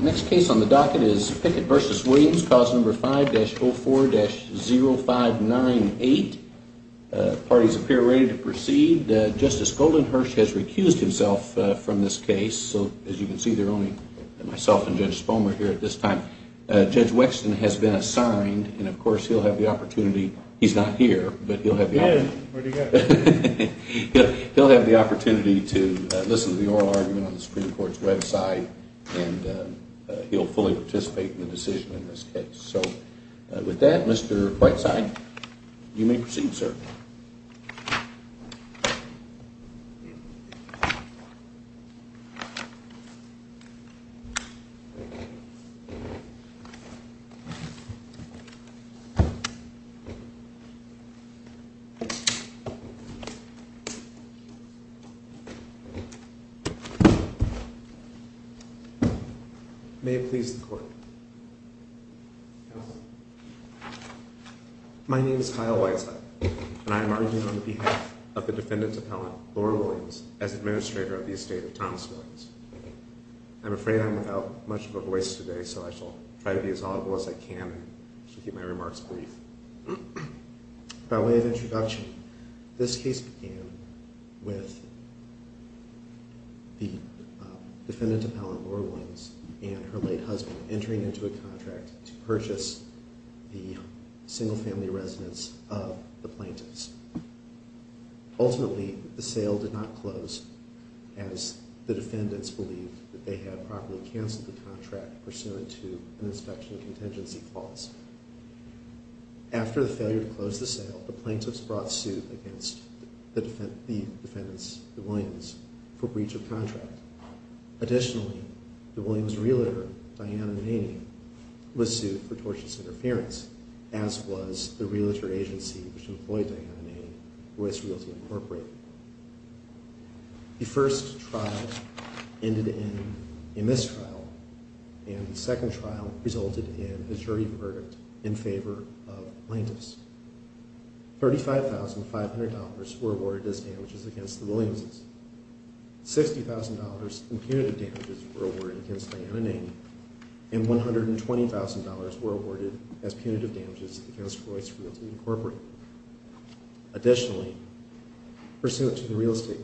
Next case on the docket is Pickett v. Williams, cause number 5-04-0598. Parties appear ready to proceed. Justice Goldenhirsch has recused himself from this case. So as you can see, there are only myself and Judge Spomer here at this time. Judge Wexton has been assigned, and of course, he'll have the opportunity. He's not here, but he'll have the opportunity to listen to the oral argument on the Supreme Court's website and he'll fully participate in the decision in this case. So with that, Mr. Whiteside, you may proceed, sir. May it please the court. My name is Kyle Whiteside, and I am arguing on behalf of the defendant's appellant, Laura Williams, as administrator of the estate of Thomas Williams. I'm afraid I'm without much of a voice today, so I shall try to be as audible as I can and keep my remarks brief. By way of introduction, this case began with the defendant appellant, Laura Williams, and her late husband entering into a contract to purchase the single family residence of the plaintiffs. Ultimately, the sale did not close, as the defendants believed that they had properly canceled the contract pursuant to an inspection contingency clause. After the failure to close the sale, the plaintiffs brought suit against the defendants, the Williams, for breach of contract. Additionally, the Williams' realtor, Diana Naney, was sued for tortious interference, as was the realtor agency which employed Diana Naney, Royce Realty Incorporated. The first trial ended in a mistrial, and the second trial resulted in a jury verdict in favor of plaintiffs. $35,500 were awarded as damages against the Williams'. $60,000 in punitive damages were awarded against Diana Naney, and $120,000 were awarded as punitive damages against Royce Realty Incorporated. Additionally, pursuant to the real estate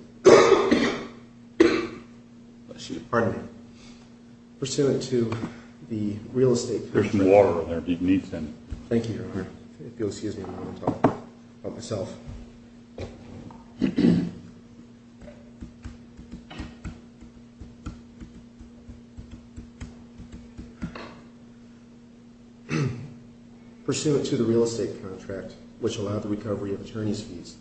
contract, which allowed the recovery of attorneys' fees,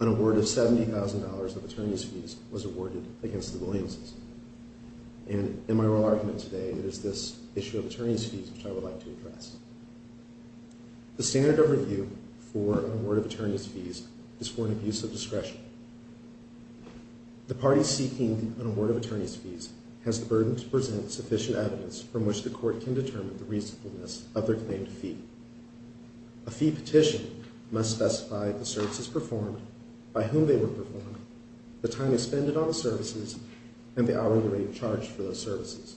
an award of $70,000 of attorneys' fees was awarded against the Williams'. And in my oral argument today, it is one of the issues which I would like to address. The standard of review for an award of attorneys' fees is for an abuse of discretion. The party seeking an award of attorneys' fees has the burden to present sufficient evidence from which the court can determine the reasonableness of their claim to fee. A fee petition must specify the services performed, by whom they were performed, the time expended on the services, and the hourly rate charged for those services.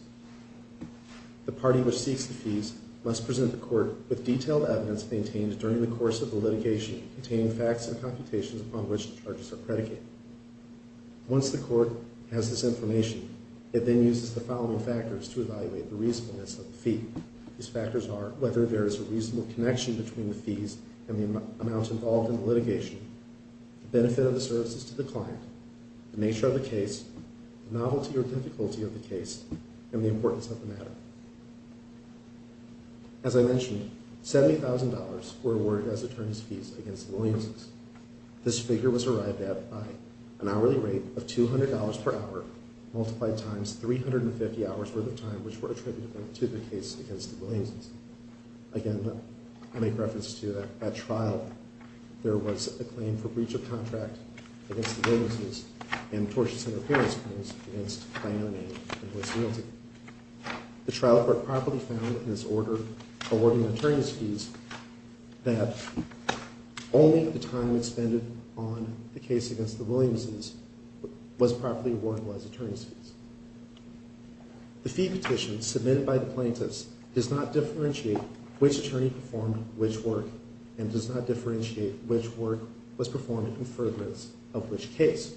The party which seeks the fees must present the court with detailed evidence maintained during the course of the litigation, containing facts and computations upon which the charges are predicated. Once the court has this information, it then uses the following factors to evaluate the reasonableness of the fee. These factors are whether there is a reasonable connection between the fees and the amount involved in the litigation, the benefit of the services to the client, the nature of the case, the novelty or difficulty of the case, and the importance of the matter. As I mentioned, $70,000 were awarded as attorneys' fees against the Williamses. This figure was arrived at by an hourly rate of $200 per hour, multiplied times 350 hours worth of time, which were attributed to the case against the Williamses. Again, I make reference to that trial. There was a claim for breach of contract against the Williamses, and tortious interpretation of the claims against Clannan and his loyalty. The trial court properly found in this order awarding attorneys' fees that only the time expended on the case against the Williamses was properly awarded as attorneys' fees. The fee petition submitted by the plaintiffs does not differentiate which attorney performed which work, and does not differentiate which work was performed in furtherance of which case.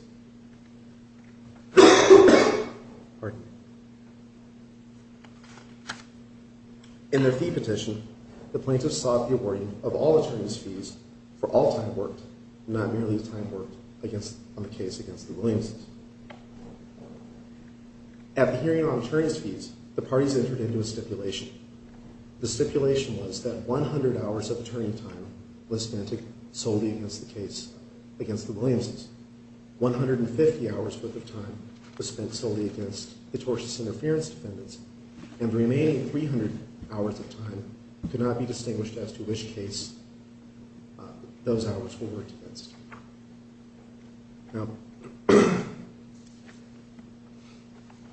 In their fee petition, the plaintiffs sought the awarding of all attorneys' fees for all time worked, not merely the time worked on the case against the Williamses. At the hearing on attorneys' fees, the parties entered into a stipulation. The stipulation was that 100 hours of attorney time was spent solely against the case against the Williamses. 150 hours worth of time was spent solely against the tortious interference defendants. And the remaining 300 hours of time could not be distinguished as to which case those hours were worked against. Now,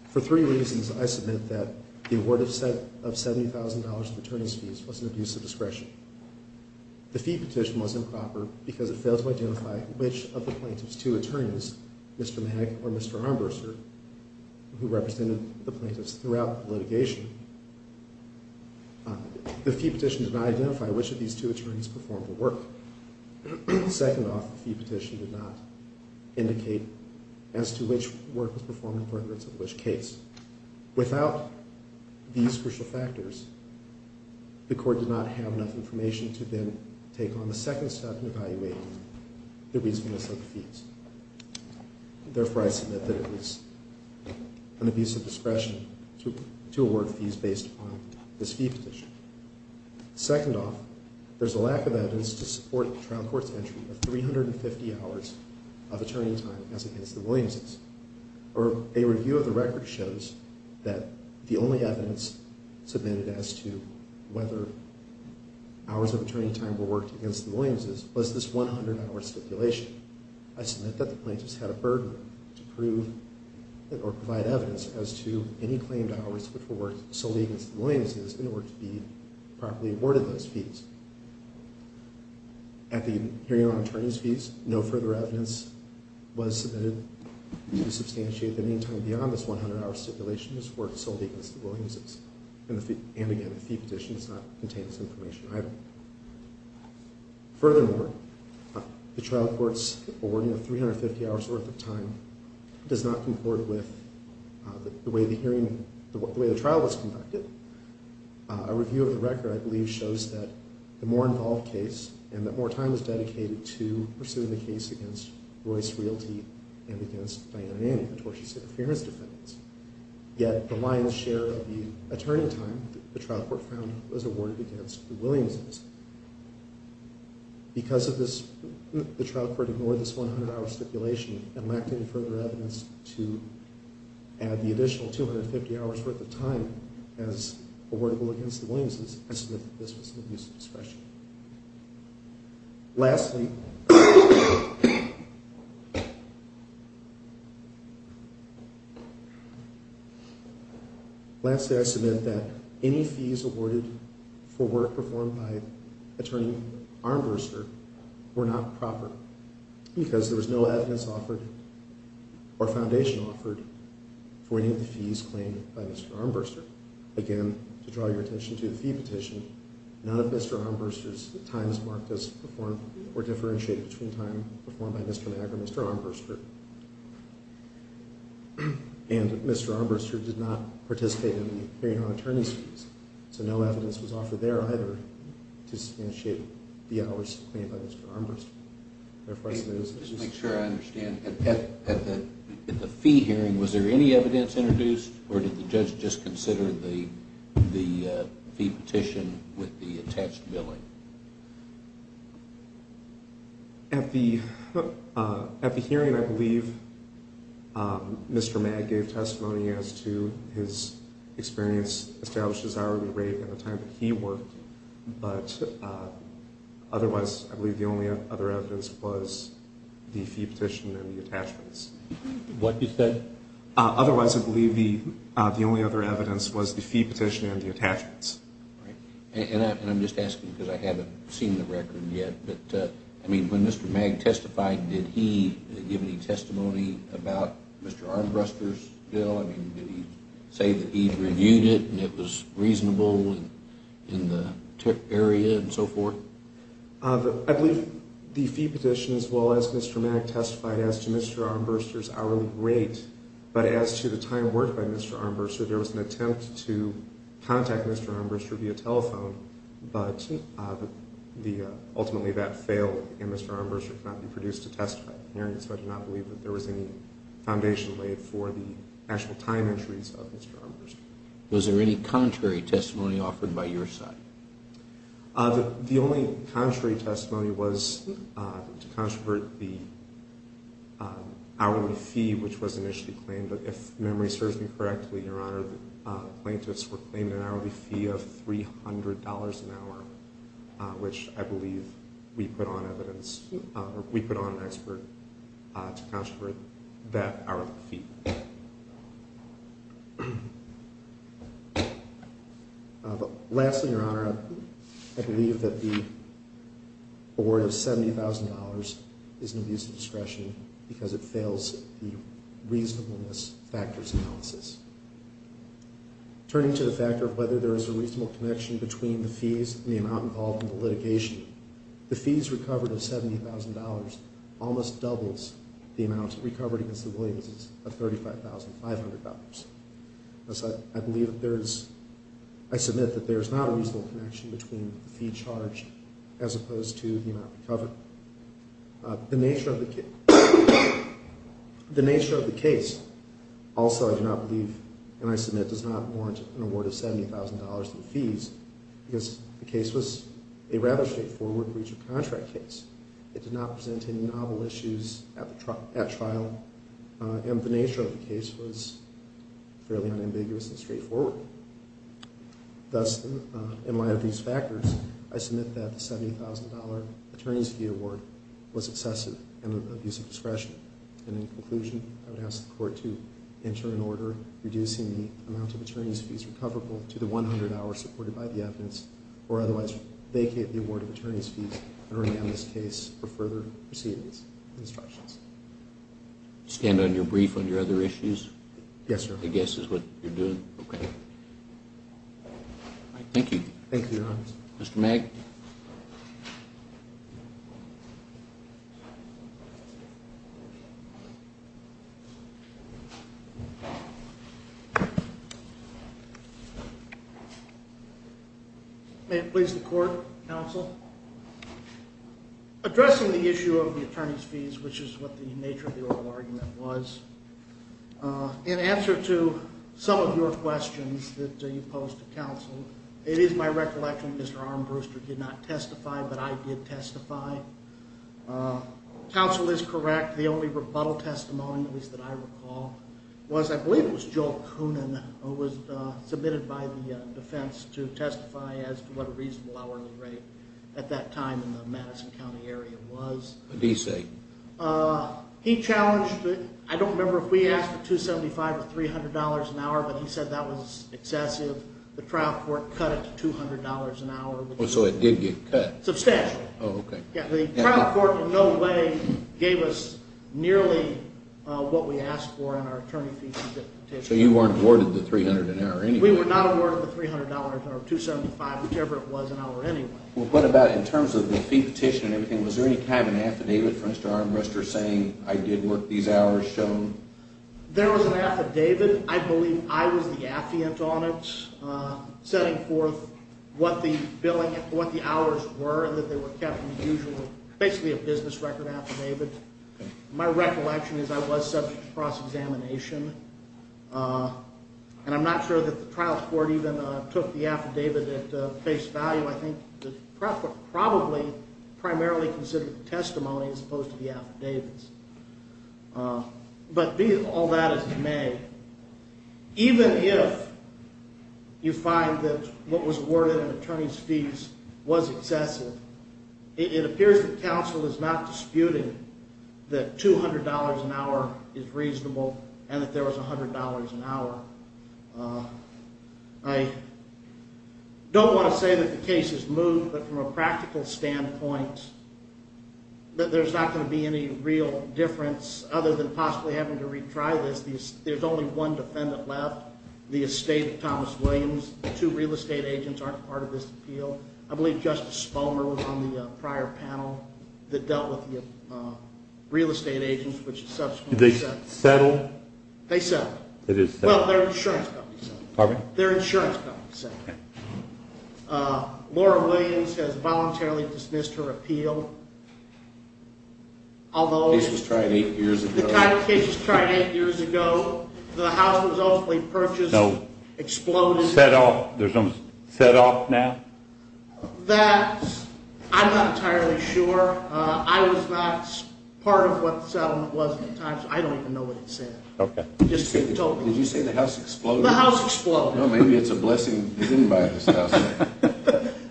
for three reasons, I submit that the award of $70,000 of attorneys' fees was an abuse of discretion. The fee petition was improper because it was two attorneys, Mr. Magg or Mr. Armbruster, who represented the plaintiffs throughout the litigation. The fee petition did not identify which of these two attorneys performed the work. Second off, the fee petition did not indicate as to which work was performed in furtherance of which case. Without these crucial factors, the court did not have enough information to then take on the second step in evaluating the reasonableness of the fees. Therefore, I submit that it was an abuse of discretion to award fees based upon this fee petition. Second off, there's a lack of evidence to support trial court's entry of 350 hours of attorney time as against the Williamses. Or a review of the record shows that the only evidence submitted as to whether hours of attorney time were worked against the Williamses was this 100-hour stipulation. I submit that the plaintiffs had a burden to prove or provide evidence as to any claimed hours which were worked solely against the Williamses in order to be properly awarded those fees. At the hearing on attorneys' fees, no further evidence was submitted to substantiate that any time beyond this 100-hour stipulation was worked solely against the Williamses. And again, the fee petition does not Furthermore, the trial court's awarding of 350 hours worth of time does not concord with the way the trial was conducted. A review of the record, I believe, shows that the more involved case and that more time was dedicated to pursuing the case against Royce Realty and against Diana Nanny, the tortious interference defendants. Yet the lion's share of the attorney time the trial court found was awarded against the Williamses. Because the trial court ignored this 100-hour stipulation and lacked any further evidence to add the additional 250 hours worth of time as awardable against the Williamses, I submit that this was an abuse of discretion. Lastly, I submit that any fees awarded for work performed by Attorney Armbruster were not proper because there was no evidence offered or foundation offered for any of the fees claimed by Mr. Armbruster. Again, to draw your attention to the fee petition, none of Mr. Armbruster's time is marked as performed or differentiated between time performed by Mr. Mack or Mr. Armbruster. And Mr. Armbruster did not participate in the hearing on attorney's fees. So no evidence was offered there either to substantiate the hours claimed by Mr. Armbruster. Therefore, I submit as much as I can. Just to make sure I understand, at the fee hearing, was there any evidence introduced? Or did the judge just consider the fee petition with the attached billing? At the hearing, I believe Mr. Mack gave testimony as to his experience established as hourly rate at the time that he worked. But otherwise, I believe the only other evidence was the fee petition and the attachments. What you said? Otherwise, I believe the only other evidence was the fee petition and the attachments. And I'm just asking because I haven't seen the record yet. I mean, when Mr. Mack testified, did he give any testimony about Mr. Armbruster's bill? I mean, did he say that he'd reviewed it and it was reasonable in the area and so forth? I believe the fee petition, as well as Mr. Mack testified as to Mr. Armbruster's hourly rate. But as to the time worked by Mr. Armbruster, there was an attempt to contact Mr. Armbruster via telephone. But ultimately, that failed. And Mr. Armbruster could not be produced to testify at the hearing. So I do not believe that there was any foundation laid for the actual time entries of Mr. Armbruster. Was there any contrary testimony offered by your side? The only contrary testimony was to contravert the hourly fee, which was initially claimed. But if memory serves me correctly, Your Honor, the plaintiffs were claiming an hourly fee of $300 an hour, which I believe we put on an expert to contravert that hourly fee. Lastly, Your Honor, I believe that the award of $70,000 is an abuse of discretion because it fails the reasonableness factors analysis. Turning to the factor of whether there is a reasonable connection between the fees and the amount involved in the litigation, the fees recovered of $70,000 almost doubles the amount recovered of $35,500. Thus, I submit that there is not a reasonable connection between the fee charged as opposed to the amount recovered. The nature of the case also, I do not believe, and I submit does not warrant an award of $70,000 in fees because the case was a rather straightforward breach of contract case. It did not present any novel issues at trial. And the nature of the case was fairly unambiguous and straightforward. Thus, in light of these factors, I submit that the $70,000 attorney's fee award was excessive and of abuse of discretion. And in conclusion, I would ask the court to enter an order reducing the amount of attorney's fees recoverable to the 100 hours supported by the evidence or otherwise vacate the award of attorney's fees and rename this case for further proceedings and instructions. Stand on your brief on your other issues? Yes, sir. I guess is what you're doing. OK. All right, thank you. Thank you, Your Honor. Mr. Magg. Thank you. May it please the court, counsel? Addressing the issue of the attorney's fees, which is what the nature of the oral argument was, in answer to some of your questions that you posed to counsel, it is my recollection Mr. Armbruster did not testify, but I did testify. Counsel is correct. The only rebuttal testimony that I recall was, I believe it was Joel Coonan, who was submitted by the defense to testify as to what a reasonable hourly rate at that time in the Madison County area was. What did he say? He challenged it. I don't remember if we asked for $275 or $300 an hour, but he said that was excessive. The trial court cut it to $200 an hour. So it did get cut? Substantial. Oh, OK. Yeah, the trial court in no way gave us nearly what we asked for in our attorney fees petition. So you weren't awarded the $300 an hour anyway? We were not awarded the $300 or $275, whichever it was an hour anyway. Well, what about in terms of the fee petition and everything, was there any kind of an affidavit for Mr. Armbruster saying, I did work these hours shown? There was an affidavit. I believe I was the affiant on it, setting forth what the hours were and that they were kept in the usual, basically a business record affidavit. My recollection is I was subject to cross-examination. And I'm not sure that the trial court even took the affidavit at face value. I think the trial court probably primarily considered the testimony as opposed to the affidavits. But all that is in May. Even if you find that what was awarded in attorney's fees was excessive, it appears that counsel is not disputing that $200 an hour is reasonable and that there was $100 an hour. I don't want to say that the case is moved, but from a practical standpoint, that there's not going to be any real difference other than possibly having to retry this. There's only one defendant left. The estate of Thomas Williams, the two real estate agents aren't part of this appeal. I believe Justice Spalmer was on the prior panel that dealt with the real estate agents, which is subsequently settled. Did they settle? They settled. They did settle. Well, their insurance company settled. Their insurance company settled. OK. Laura Williams has voluntarily dismissed her appeal, although the case was tried eight years ago. The house was ultimately purchased, exploded. There's no set off now? That, I'm not entirely sure. I was not part of what the settlement was at the time, so I don't even know what it said. OK. Just told me. Did you say the house exploded? The house exploded. Well, maybe it's a blessing. He didn't buy this house.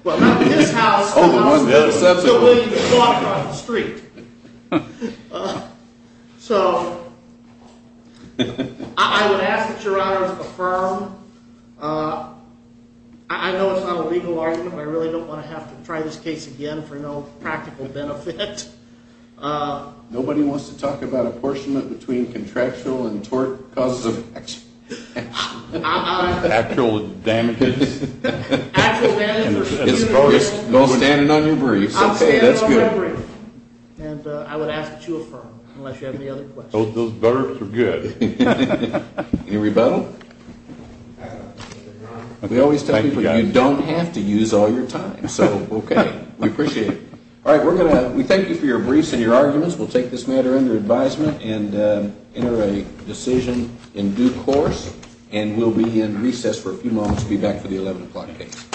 Well, not this house. Oh, the one that was settled. The one that exploded on the street. So I would ask that Your Honor to affirm. I know it's not a legal argument, but I really don't want to have to try this case again for no practical benefit. Nobody wants to talk about apportionment between contractual and tort causes of action. Actual damages? Actual damages for human rights. I'm standing on your briefs. OK, that's good. And I would ask that you affirm, unless you have any other questions. Those burps were good. Any rebuttal? We always tell people, you don't have to use all your time. So OK, we appreciate it. All right, we thank you for your briefs and your arguments. We'll take this matter under advisement and enter a decision in due course. And we'll be in recess for a few moments. We'll be back for the 11 o'clock case.